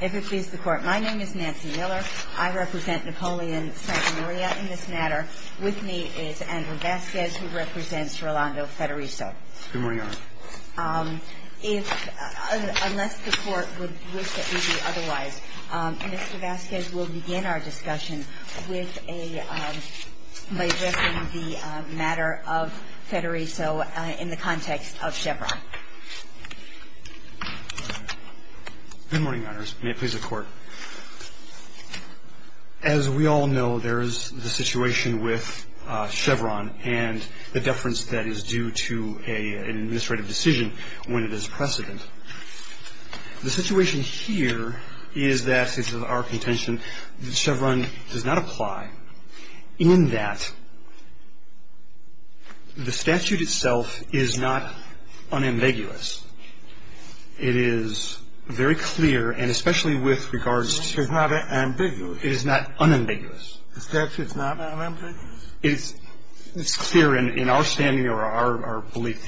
If it pleases the Court, my name is Nancy Miller. I represent Napoleon Santa Maria in this matter. With me is Andrew Vasquez, who represents Rolando Federiso. If, unless the Court would wish that we be otherwise, Mr. Vasquez will begin our discussion with a, by addressing the matter of Federiso in the context of Chevron. Good morning, Your Honors. May it please the Court. As we all know, there is the situation with Chevron and the deference that is due to an administrative decision when it is precedent. The situation here is that, since it's our contention, Chevron does not apply in that the statute itself is not unambiguously ambiguous. It is very clear, and especially with regards to the statute, it is not unambiguous. The statute is not unambiguous? It's clear in our standing or our belief,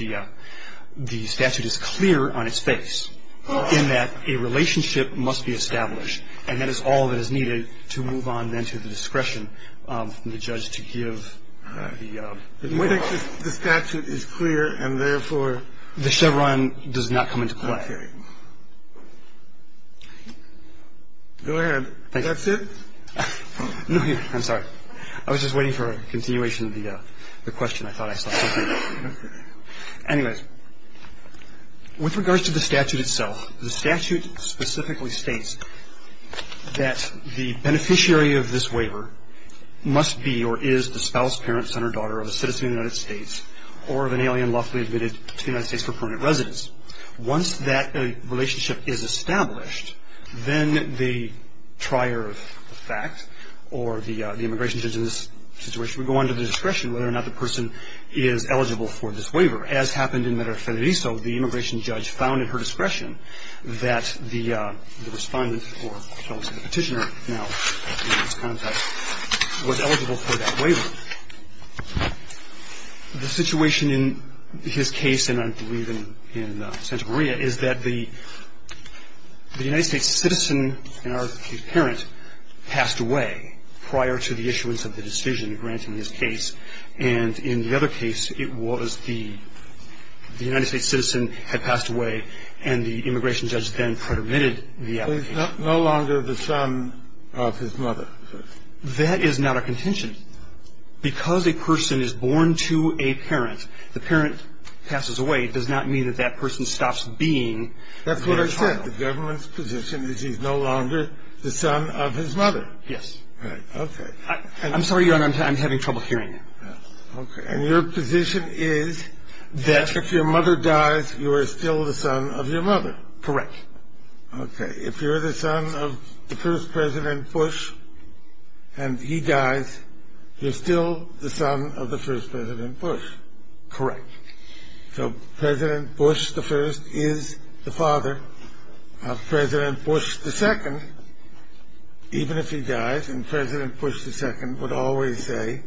the statute is clear on its face in that a relationship must be established. And that is all that is needed to move on then to the discretion of the judge to give the ruling. I think the statute is clear, and therefore... The Chevron does not come into play. Okay. Go ahead. That's it? No, I'm sorry. I was just waiting for a continuation of the question. I thought I saw something. Anyways, with regards to the statute itself, the statute specifically states that the beneficiary of this waiver must be or is the spouse, parent, son or daughter of a citizen of the United States or of an alien lawfully admitted to the United States for permanent residence. Once that relationship is established, then the trier of fact or the immigration judge in this situation would go under the discretion of whether or not the person is eligible for this waiver. As happened in Medellín-Federico, the immigration judge found at her discretion that the respondent, the petitioner now in this context, was eligible for that waiver. The situation in his case, and I believe in Santa Maria, is that the United States citizen and her parent passed away prior to the issuance of the decision granting this case. And in the other case, it was the United States citizen had passed away and the immigration judge then permitted the application. So he's no longer the son of his mother. That is not a contention. Because a person is born to a parent, the parent passes away, it does not mean that that person stops being their child. That's what I said. The government's position is he's no longer the son of his mother. Yes. Okay. I'm sorry, Your Honor, I'm having trouble hearing you. Okay. And your position is that if your mother dies, you are still the son of your mother. Correct. Okay. If you're the son of the first President Bush and he dies, you're still the son of the first President Bush. Correct. So President Bush I is the father of President Bush II, even if he dies. And President Bush II would always say,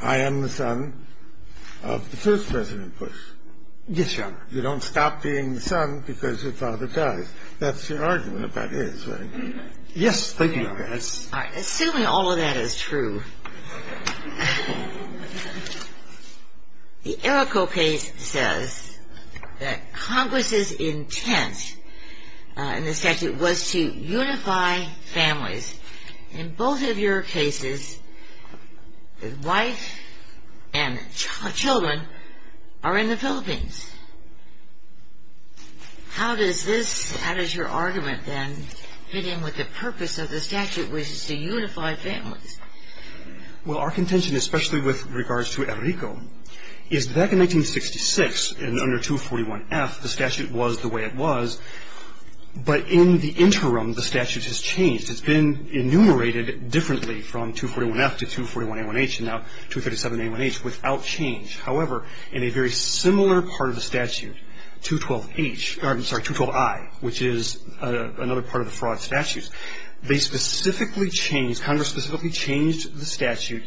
I am the son of the first President Bush. Yes, Your Honor. You don't stop being the son because your father dies. That's your argument about his, right? Thank you, Your Honor. All right. Assuming all of that is true, the Errico case says that Congress's intent in the statute was to unify families. In both of your cases, the wife and children are in the Philippines. How does this, how does your argument then fit in with the purpose of the statute, which is to unify families? Well, our contention, especially with regards to Errico, is back in 1966, under 241F, the statute was the way it was. But in the interim, the statute has changed. It's been enumerated differently from 241F to 241A1H and now 237A1H without change. However, in a very similar part of the statute, 212H, I'm sorry, 212I, which is another part of the fraud statutes, they specifically changed, Congress specifically changed the statute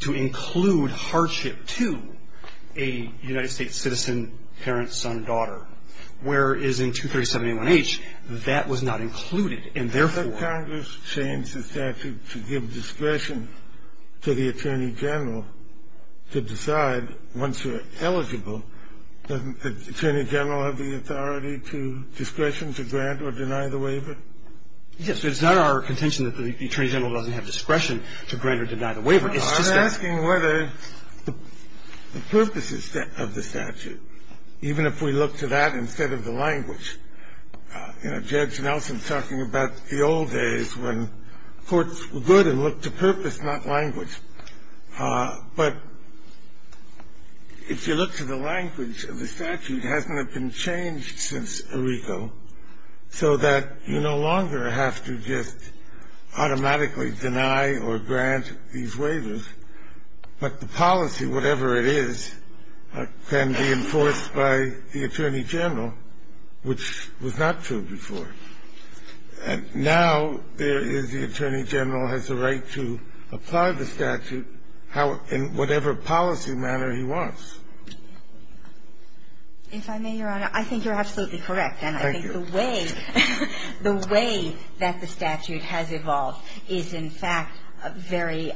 to include hardship to a United States citizen, parent, son, daughter, whereas in 237A1H, that was not included. And therefore, But Congress changed the statute to give discretion to the Attorney General to decide, once you're eligible, doesn't the Attorney General have the authority to, discretion to grant or deny the waiver? Yes. It's not our contention that the Attorney General doesn't have discretion to grant or deny the waiver. I'm asking whether the purposes of the statute, even if we look to that instead of the language. You know, Judge Nelson's talking about the old days when courts were good and looked to purpose, not language. But if you look to the language of the statute, hasn't it been changed since Errico so that you no longer have to just automatically deny or grant these waivers, but the policy, whatever it is, can be enforced by the Attorney General, which was not true before? And now there is the Attorney General has the right to apply the statute in whatever policy manner he wants. If I may, Your Honor, I think you're absolutely correct. Thank you. And I think the way that the statute has evolved is, in fact, very,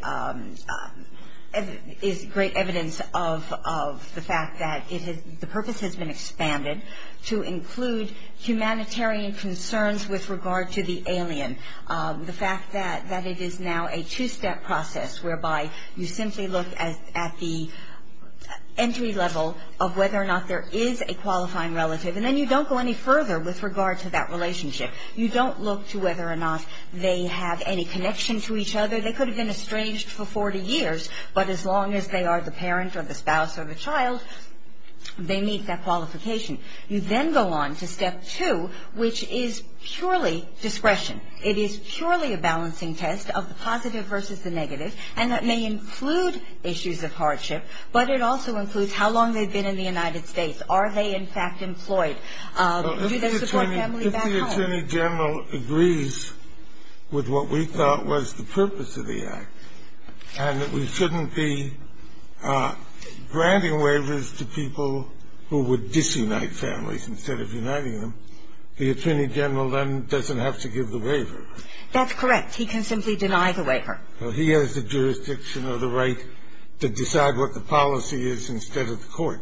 is great evidence of the fact that it has, the purpose has been expanded to include humanitarian concerns with regard to the alien. The fact that it is now a two-step process whereby you simply look at the entry level of whether or not there is a qualifying relative, and then you don't go any further with regard to that relationship. You don't look to whether or not they have any connection to each other. They could have been estranged for 40 years, but as long as they are the parent or the spouse or the child, they meet that qualification. You then go on to step two, which is purely discretion. It is purely a balancing test of the positive versus the negative, and that may include issues of hardship, but it also includes how long they've been in the United States. Are they, in fact, employed? Do they support family back home? If the Attorney General agrees with what we thought was the purpose of the Act, and that we shouldn't be granting waivers to people who would disunite families instead of uniting them, the Attorney General then doesn't have to give the waiver. That's correct. He can simply deny the waiver. Well, he has the jurisdiction or the right to decide what the policy is instead of the court.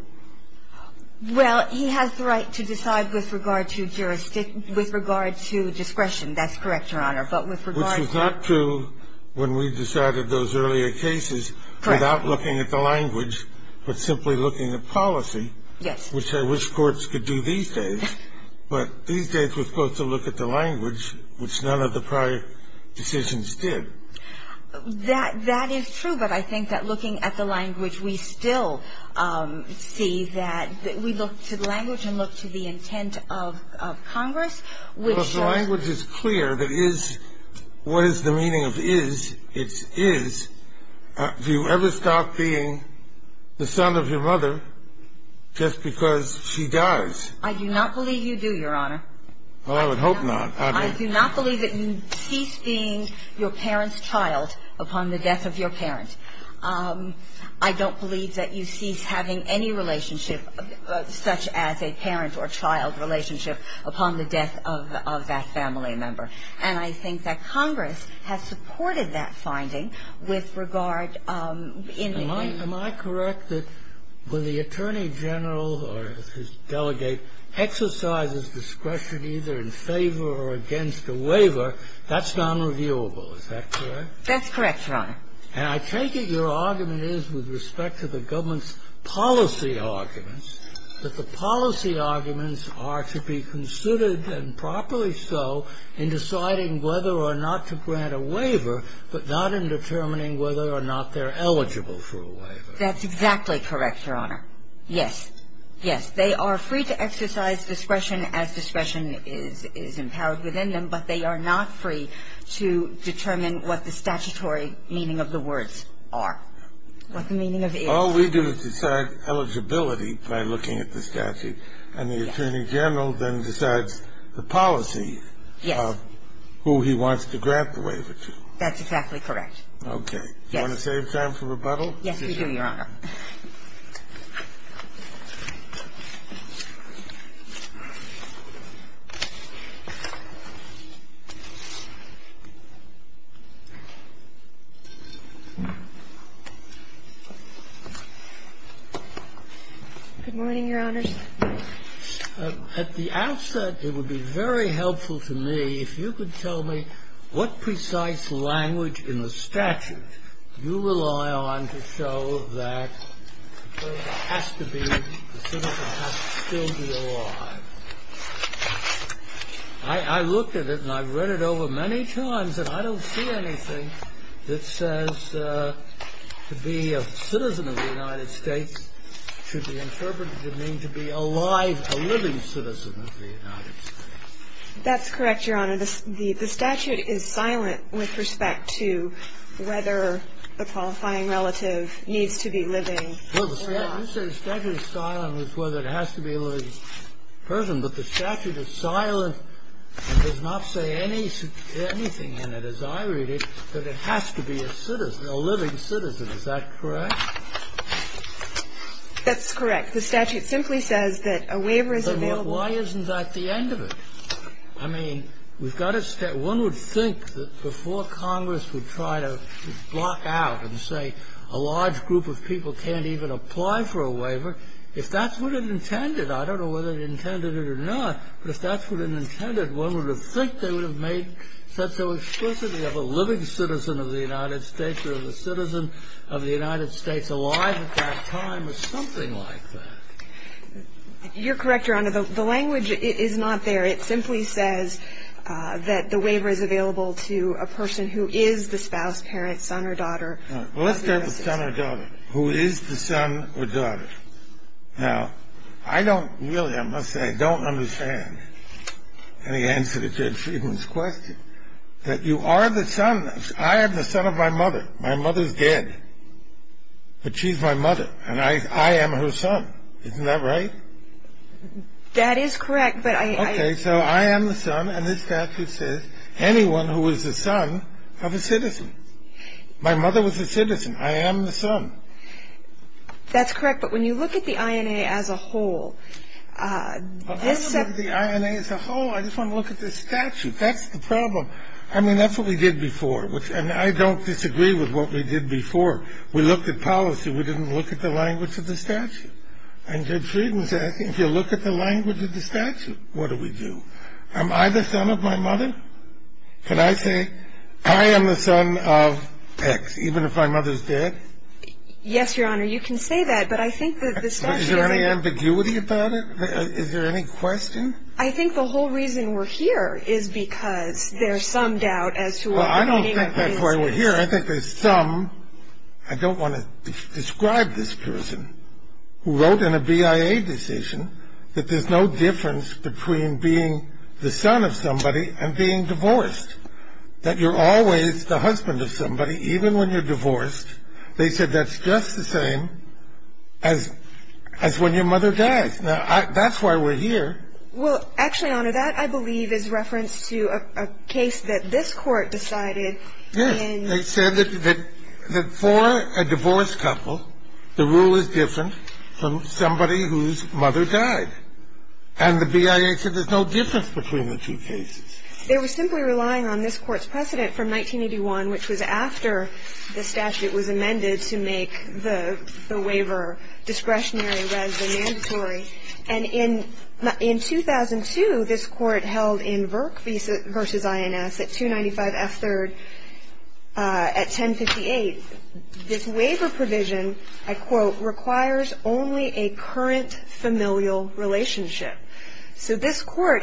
Well, he has the right to decide with regard to jurisdiction, with regard to discretion. That's correct, Your Honor. But with regard to the... Which was not true when we decided those earlier cases... Correct. ...without looking at the language, but simply looking at policy... Yes. ...which I wish courts could do these days. But these days we're supposed to look at the language, which none of the prior decisions did. That is true. But I think that looking at the language, we still see that we look to the language and look to the intent of Congress, which... Well, if the language is clear, that is what is the meaning of is, it's is. Do you ever stop being the son of your mother just because she does? I do not believe you do, Your Honor. Well, I would hope not. I do not believe that you cease being your parent's child upon the death of your parent. I don't believe that you cease having any relationship, such as a parent or child relationship, upon the death of that family member. And I think that Congress has supported that finding with regard in the... Am I correct that when the attorney general or his delegate exercises discretion, either in favor or against a waiver, that's nonreviewable. Is that correct? That's correct, Your Honor. And I take it your argument is, with respect to the government's policy arguments, that the policy arguments are to be considered, and properly so, in deciding whether or not to grant a waiver, but not in determining whether or not they're eligible for a waiver. That's exactly correct, Your Honor. Yes. Yes. They are free to exercise discretion as discretion is empowered within them, but they are not free to determine what the statutory meaning of the words are, what the meaning of is. All we do is decide eligibility by looking at the statute, and the attorney general then decides the policy of who he wants to grant the waiver to. That's exactly correct. Okay. Yes. Do you want to save time for rebuttal? Yes, we do, Your Honor. Good morning, Your Honor. At the outset, it would be very helpful to me if you could tell me what precise language in the statute you rely on to show that the citizen has to still be alive. I looked at it, and I've read it over many times, and I don't see anything that says to be a citizen of the United States should be interpreted to mean to be alive, a living citizen of the United States. That's correct, Your Honor. The statute is silent with respect to whether a qualifying relative needs to be living or not. Well, you say the statute is silent with whether it has to be a living person, but the statute is silent and does not say anything in it, as I read it, that it has to be a living citizen. Is that correct? That's correct. The statute simply says that a waiver is available. But why isn't that the end of it? I mean, we've got to stay. One would think that before Congress would try to block out and say a large group of people can't even apply for a waiver, if that's what it intended, I don't know whether it intended it or not, but if that's what it intended, one would think they would have made such an explicity of a living citizen of the United States alive at that time or something like that. You're correct, Your Honor. The language is not there. It simply says that the waiver is available to a person who is the spouse, parent, son or daughter of the United States. Let's start with son or daughter. Who is the son or daughter? Now, I don't really, I must say, don't understand any answer to Judge Friedman's question, that you are the son. I am the son of my mother. My mother's dead, but she's my mother, and I am her son. Isn't that right? That is correct, but I am. Okay, so I am the son, and this statute says anyone who is the son of a citizen. My mother was a citizen. I am the son. That's correct, but when you look at the INA as a whole, this. I don't look at the INA as a whole. I just want to look at this statute. That's the problem. I mean, that's what we did before, and I don't disagree with what we did before. We looked at policy. We didn't look at the language of the statute, and Judge Friedman said, if you look at the language of the statute, what do we do? Am I the son of my mother? Can I say I am the son of X, even if my mother's dead? Yes, Your Honor, you can say that, but I think that the statute isn't. Is there any ambiguity about it? Is there any question? I think the whole reason we're here is because there's some doubt as to what the meaning of this is. Well, I don't think that's why we're here. I think there's some. I don't want to describe this person who wrote in a BIA decision that there's no difference between being the son of somebody and being divorced, that you're always the husband of somebody, even when you're divorced. They said that's just the same as when your mother dies. Now, that's why we're here. Well, actually, Your Honor, that, I believe, is reference to a case that this Court decided. Yes. They said that for a divorced couple, the rule is different from somebody whose mother died, and the BIA said there's no difference between the two cases. They were simply relying on this Court's precedent from 1981, which was after the statute was amended to make the waiver discretionary rather than mandatory. And in 2002, this Court held in Virk v. INS at 295 F. 3rd at 1058, this waiver provision, I quote, requires only a current familial relationship. So this Court,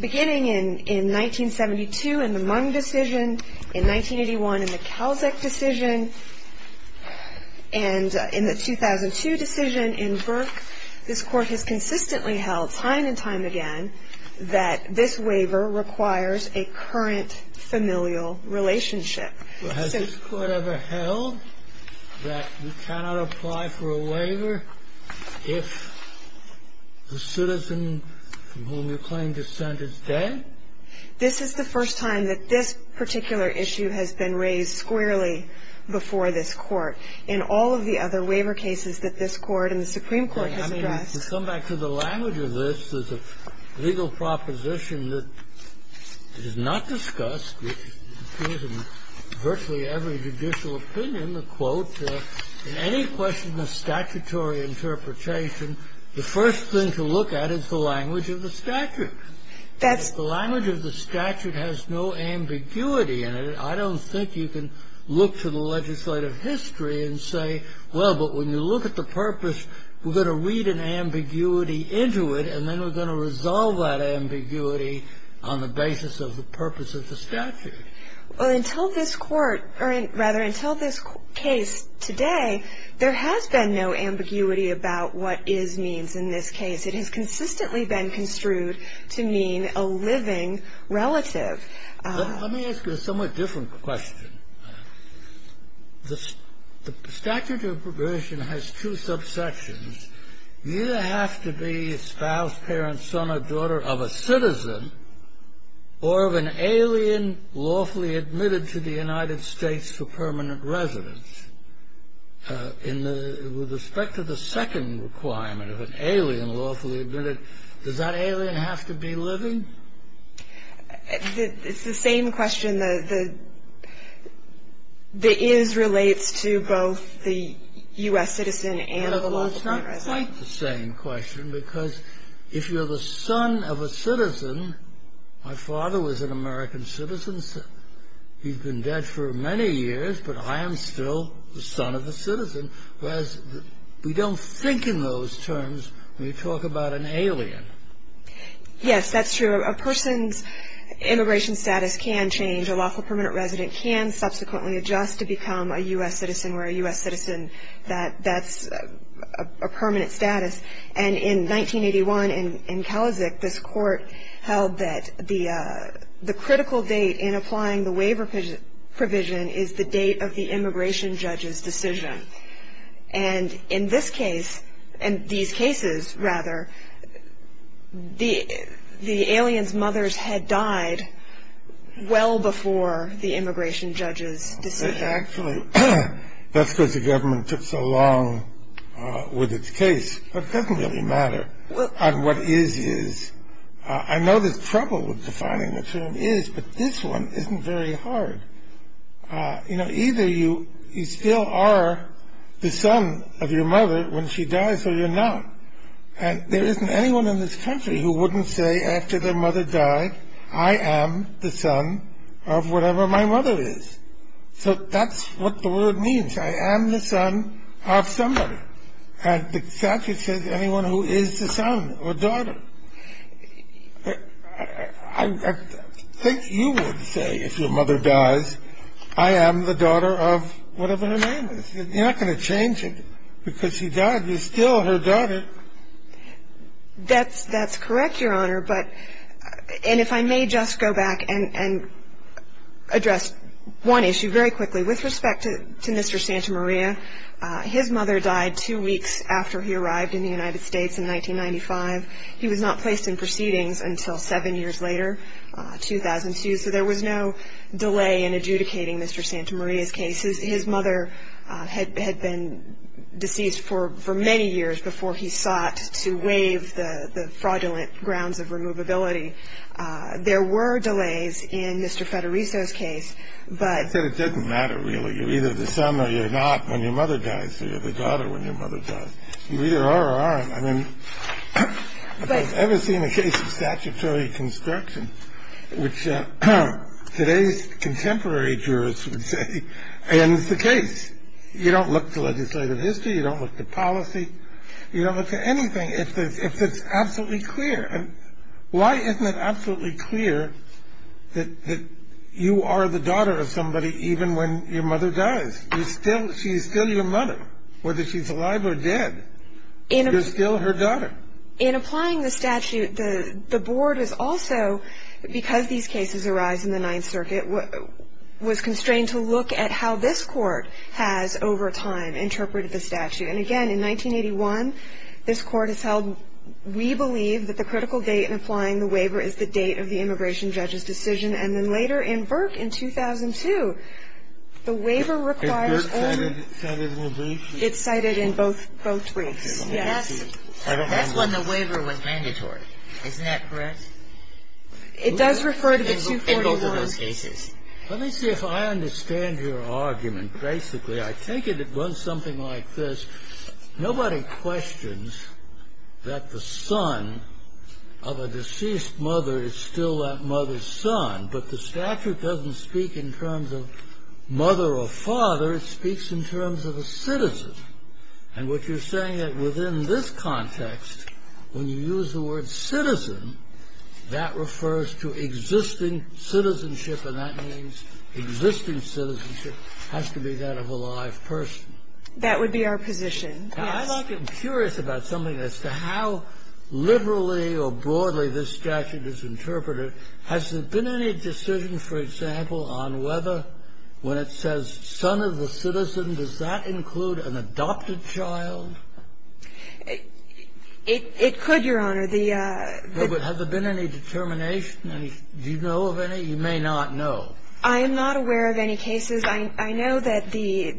beginning in 1972 in the Mung decision, in 1981 in the Kalczak decision, and in the 2002 decision in Virk, this Court has consistently held time and time again that this waiver requires a current familial relationship. Well, has this Court ever held that we cannot apply for a waiver if the citizen from whom you claim dissent is dead? This is the first time that this particular issue has been raised squarely before this Court. In all of the other waiver cases that this Court and the Supreme Court has addressed I mean, to come back to the language of this, there's a legal proposition that is not discussed, which appears in virtually every judicial opinion, the quote, In any question of statutory interpretation, the first thing to look at is the language of the statute. The language of the statute has no ambiguity in it. I don't think you can look to the legislative history and say, well, but when you look at the purpose, we're going to read an ambiguity into it, and then we're going to resolve that ambiguity on the basis of the purpose of the statute. Well, until this Court, or rather, until this case today, there has been no ambiguity about what is means in this case. It has consistently been construed to mean a living relative. Let me ask you a somewhat different question. The statute of probation has two subsections. You have to be spouse, parent, son or daughter of a citizen or of an alien lawfully admitted to the United States for permanent residence. With respect to the second requirement of an alien lawfully admitted, does that alien have to be living? It's the same question. The is relates to both the U.S. citizen and the lawfully admitted. It's not quite the same question because if you're the son of a citizen, my father was an American citizen. He's been dead for many years, but I am still the son of a citizen. Whereas we don't think in those terms when you talk about an alien. Yes, that's true. A person's immigration status can change. A lawfully permanent resident can subsequently adjust to become a U.S. citizen where a U.S. citizen, that's a permanent status. And in 1981 in Kalisic, this court held that the critical date in applying the waiver provision is the date of the immigration judge's decision. And in this case, in these cases rather, the alien's mothers had died well before the immigration judge's decision. Actually, that's because the government took so long with its case, but it doesn't really matter on what is is. I know there's trouble with defining the term is, but this one isn't very hard. You know, either you still are the son of your mother when she dies or you're not. And there isn't anyone in this country who wouldn't say after their mother died, I am the son of whatever my mother is. So that's what the word means. I am the son of somebody. And the statute says anyone who is the son or daughter. I think you would say if your mother dies, I am the daughter of whatever her name is. You're not going to change it because she died. You're still her daughter. That's correct, Your Honor. And if I may just go back and address one issue very quickly with respect to Mr. Santa Maria. His mother died two weeks after he arrived in the United States in 1995. He was not placed in proceedings until seven years later, 2002. So there was no delay in adjudicating Mr. Santa Maria's case. His mother had been deceased for many years before he sought to waive the fraudulent grounds of removability. There were delays in Mr. Federico's case. But it doesn't matter really. You're either the son or you're not when your mother dies. So you're the daughter when your mother dies. You either are or aren't. I mean, I've never seen a case of statutory construction, which today's contemporary jurors would say ends the case. You don't look to legislative history. You don't look to policy. You don't look to anything if it's absolutely clear. Why isn't it absolutely clear that you are the daughter of somebody even when your mother dies? She's still your mother, whether she's alive or dead. You're still her daughter. In applying the statute, the board is also, because these cases arise in the Ninth Circuit, was constrained to look at how this court has over time interpreted the statute. And, again, in 1981, this court has held, we believe that the critical date in applying the waiver is the date of the immigration judge's decision. And then later in VIRC in 2002, the waiver requires only ---- It's cited in both briefs? It's cited in both briefs, yes. That's when the waiver was mandatory. Isn't that correct? It does refer to the two court orders. In both of those cases. Let me see if I understand your argument. Basically, I take it it runs something like this. Nobody questions that the son of a deceased mother is still that mother's son, but the statute doesn't speak in terms of mother or father. It speaks in terms of a citizen. And what you're saying is within this context, when you use the word citizen, that refers to existing citizenship, and that means existing citizenship has to be that of a live person. That would be our position, yes. Now, I'm curious about something as to how liberally or broadly this statute is interpreted. Has there been any decision, for example, on whether when it says son of a citizen, does that include an adopted child? It could, Your Honor. The ---- Well, but have there been any determination? Do you know of any? You may not know. I am not aware of any cases. I know that the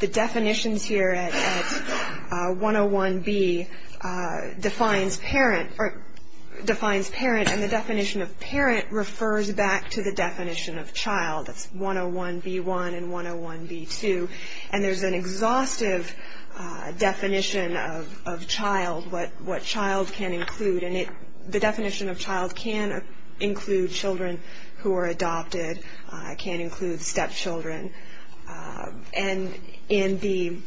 definitions here at 101B defines parent or defines parent, and the definition of parent refers back to the definition of child. That's 101B1 and 101B2. And there's an exhaustive definition of child, what child can include. And the definition of child can include children who are adopted, can include stepchildren. And in the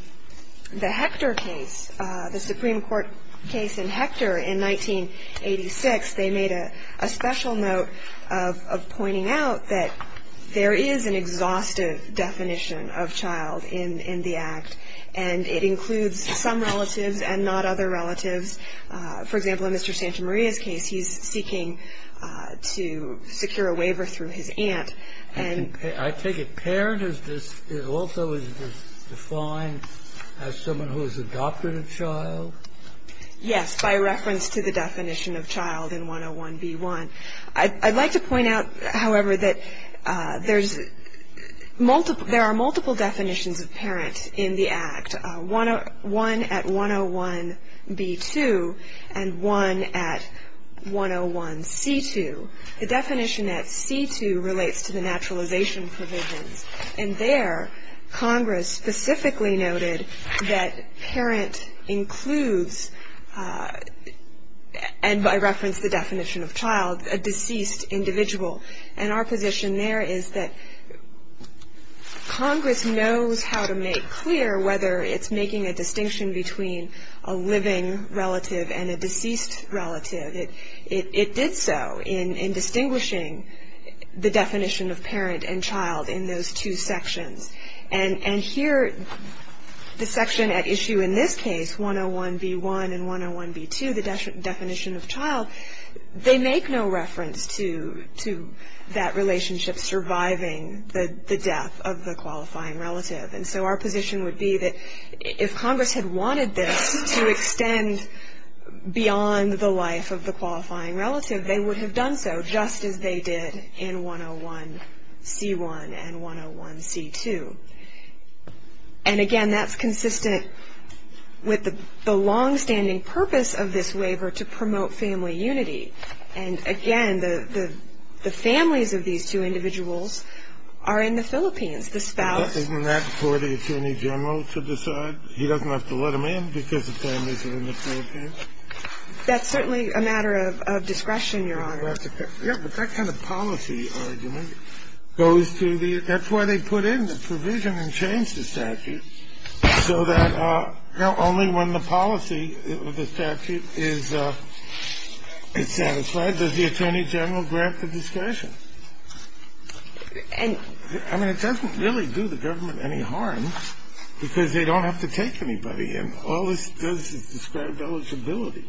Hector case, the Supreme Court case in Hector in 1986, they made a special note of pointing out that there is an exhaustive definition of child in the Act, and it includes some relatives and not other relatives. For example, in Mr. Santamaria's case, he's seeking to secure a waiver through his aunt and ---- I take it parent is this also is defined as someone who has adopted a child? Yes, by reference to the definition of child in 101B1. I'd like to point out, however, that there are multiple definitions of parent in the Act, one at 101B2 and one at 101C2. The definition at C2 relates to the naturalization provisions. And there, Congress specifically noted that parent includes, and by reference the definition of child, a deceased individual. And our position there is that Congress knows how to make clear whether it's making a distinction between a living relative and a deceased relative. It did so in distinguishing the definition of parent and child in those two sections. And here, the section at issue in this case, 101B1 and 101B2, the definition of child, they make no reference to that relationship surviving the death of the qualifying relative. And so our position would be that if Congress had wanted this to extend beyond the life of the qualifying relative, they would have done so just as they did in 101C1 and 101C2. And again, that's consistent with the longstanding purpose of this waiver to promote family unity. And again, the families of these two individuals are in the Philippines. The spouse. Scalia. Isn't that for the attorney general to decide? He doesn't have to let them in because the families are in the Philippines? Kagan. That's certainly a matter of discretion, Your Honor. Scalia. Yeah, but that kind of policy argument goes to the – that's why they put in the provision and changed the statute so that not only when the policy of the statute is satisfied, does the attorney general grant the discretion. I mean, it doesn't really do the government any harm because they don't have to take anybody in. All this does is describe eligibility.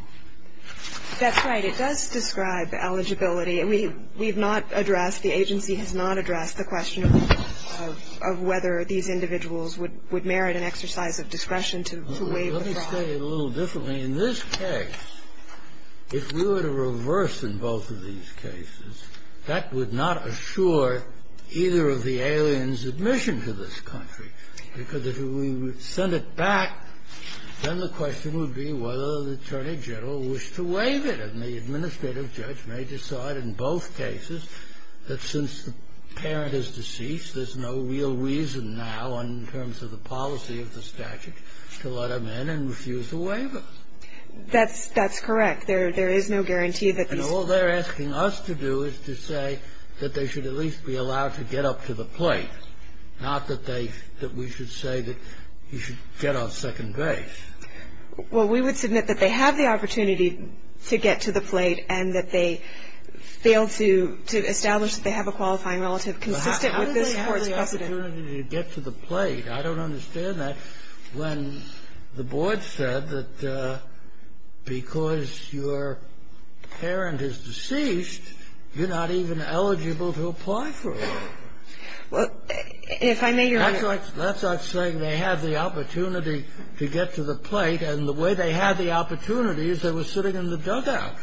That's right. It does describe eligibility. We have not addressed, the agency has not addressed the question of whether these individuals would merit an exercise of discretion to waive the clause. Let me say it a little differently. I mean, in this case, if we were to reverse in both of these cases, that would not assure either of the aliens' admission to this country. Because if we would send it back, then the question would be whether the attorney general wished to waive it. And the administrative judge may decide in both cases that since the parent is deceased, there's no real reason now in terms of the policy of the statute to let them in and refuse a waiver. That's correct. There is no guarantee that these – And all they're asking us to do is to say that they should at least be allowed to get up to the plate, not that they – that we should say that you should get on second base. Well, we would submit that they have the opportunity to get to the plate and that they failed to establish that they have a qualifying relative consistent with this Court's precedent. But how did they have the opportunity to get to the plate? I don't understand that when the board said that because your parent is deceased, you're not even eligible to apply for a waiver. Well, if I may, Your Honor – That's like saying they had the opportunity to get to the plate, and the way they had the opportunity is they were sitting in the dugout.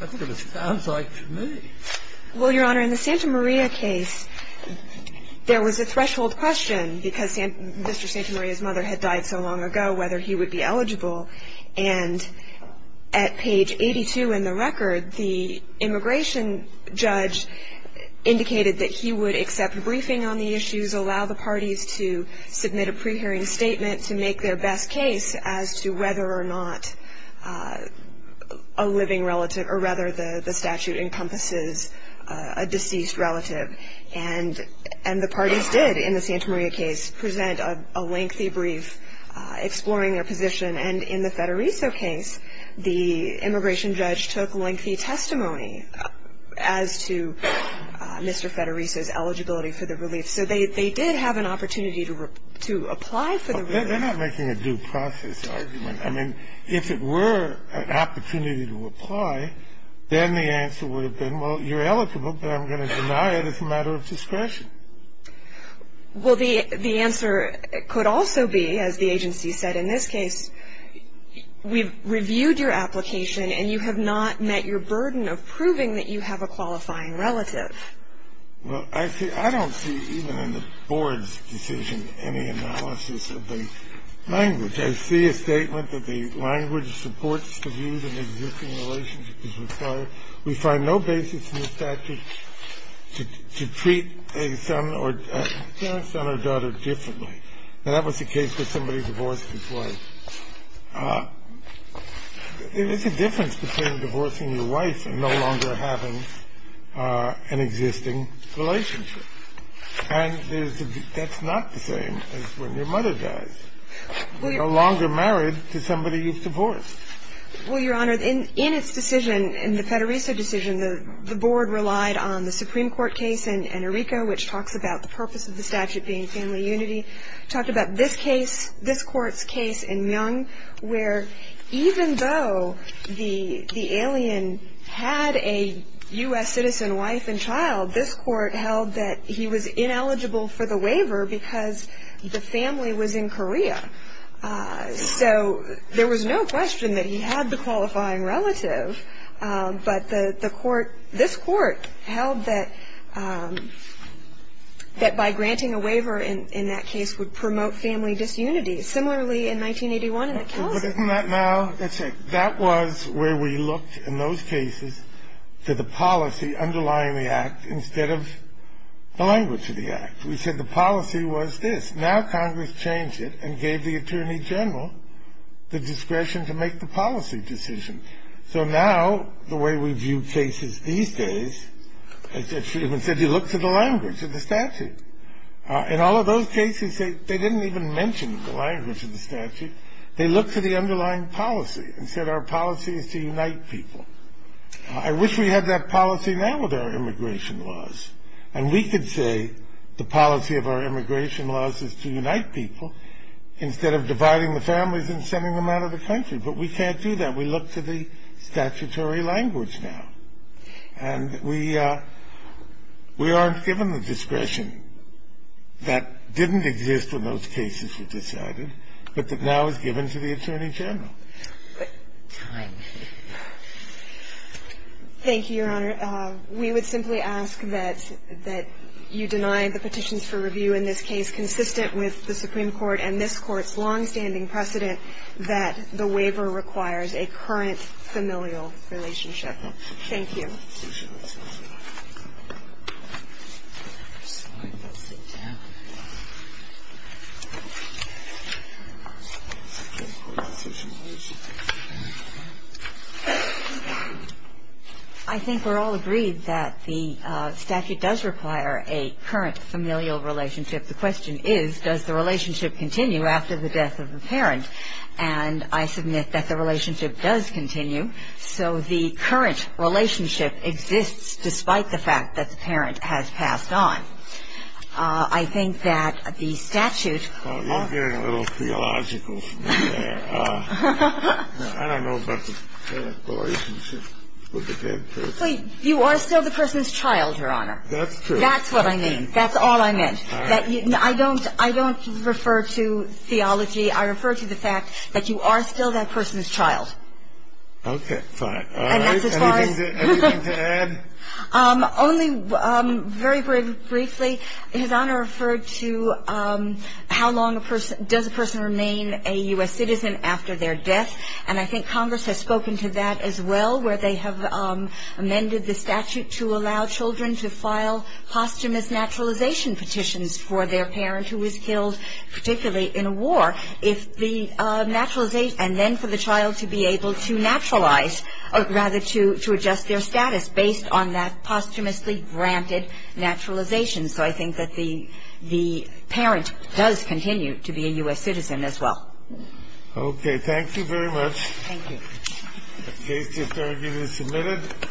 That's what it sounds like to me. Well, Your Honor, in the Santa Maria case, there was a threshold question because Mr. Santa Maria's mother had died so long ago whether he would be eligible. And at page 82 in the record, the immigration judge indicated that he would accept a briefing on the issues, allow the parties to submit a pre-hearing statement to make their best case as to whether or not a living relative – or rather the statute encompasses a deceased relative. And the parties did, in the Santa Maria case, present a lengthy brief exploring their position. And in the Federico case, the immigration judge took lengthy testimony as to Mr. Federico's eligibility for the relief. So they did have an opportunity to apply for the relief. They're not making a due process argument. I mean, if it were an opportunity to apply, then the answer would have been, well, you're eligible, but I'm going to deny it as a matter of discretion. Well, the answer could also be, as the agency said in this case, we've reviewed your application and you have not met your burden of proving that you have a qualifying relative. Well, I don't see, even in the board's decision, any analysis of the language. I see a statement that the language supports the view that an existing relationship is required. We find no basis in the statute to treat a son or daughter differently. Now, that was the case with somebody who divorced his wife. There's a difference between divorcing your wife and no longer having an existing relationship. And that's not the same as when your mother dies. You're no longer married to somebody you've divorced. Well, Your Honor, in its decision, in the Federico decision, the board relied on the Supreme Court case in Enrico, which talks about the purpose of the statute being family unity. It talked about this case, this Court's case in Myung, where even though the alien had a U.S. citizen wife and child, this Court held that he was ineligible for the waiver because the family was in Korea. So there was no question that he had the qualifying relative, but the Court, this Court held that by granting a waiver in that case would promote family disunity. Similarly, in 1981 in the Kelsey case. But isn't that now? That's right. That was where we looked in those cases to the policy underlying the act instead of the language of the act. We said the policy was this. Now Congress changed it and gave the attorney general the discretion to make the policy decision. So now the way we view cases these days, it's even said you look to the language of the statute. In all of those cases, they didn't even mention the language of the statute. They looked to the underlying policy and said our policy is to unite people. I wish we had that policy now with our immigration laws, and we could say the policy of our immigration laws is to unite people instead of dividing the families and sending them out of the country, but we can't do that. We look to the statutory language now, and we aren't given the discretion that didn't exist when those cases were decided, but that now is given to the attorney general. But time. Thank you, Your Honor. We would simply ask that you deny the petitions for review in this case consistent with the Supreme Court and this Court's longstanding precedent that the waiver requires a current familial relationship. Thank you. I think we're all agreed that the statute does require a current familial relationship. The question is, does the relationship continue after the death of the parent? And I submit that the relationship does continue. So the current relationship exists despite the fact that the parent has passed on. I think that the statute. You're getting a little theological from me there. I don't know about the relationship with the dead person. You are still the person's child, Your Honor. That's true. That's what I mean. That's all I meant. I don't refer to theology. I refer to the fact that you are still that person's child. Okay. Fine. Anything to add? Only very, very briefly. His Honor referred to how long does a person remain a U.S. citizen after their death. And I think Congress has spoken to that as well, where they have amended the statute to allow children to file posthumous naturalization petitions for their parent who was killed, particularly in a war. And then for the child to be able to naturalize, or rather to adjust their status, based on that posthumously granted naturalization. So I think that the parent does continue to be a U.S. citizen as well. Okay. Thank you very much. Thank you. The case is submitted.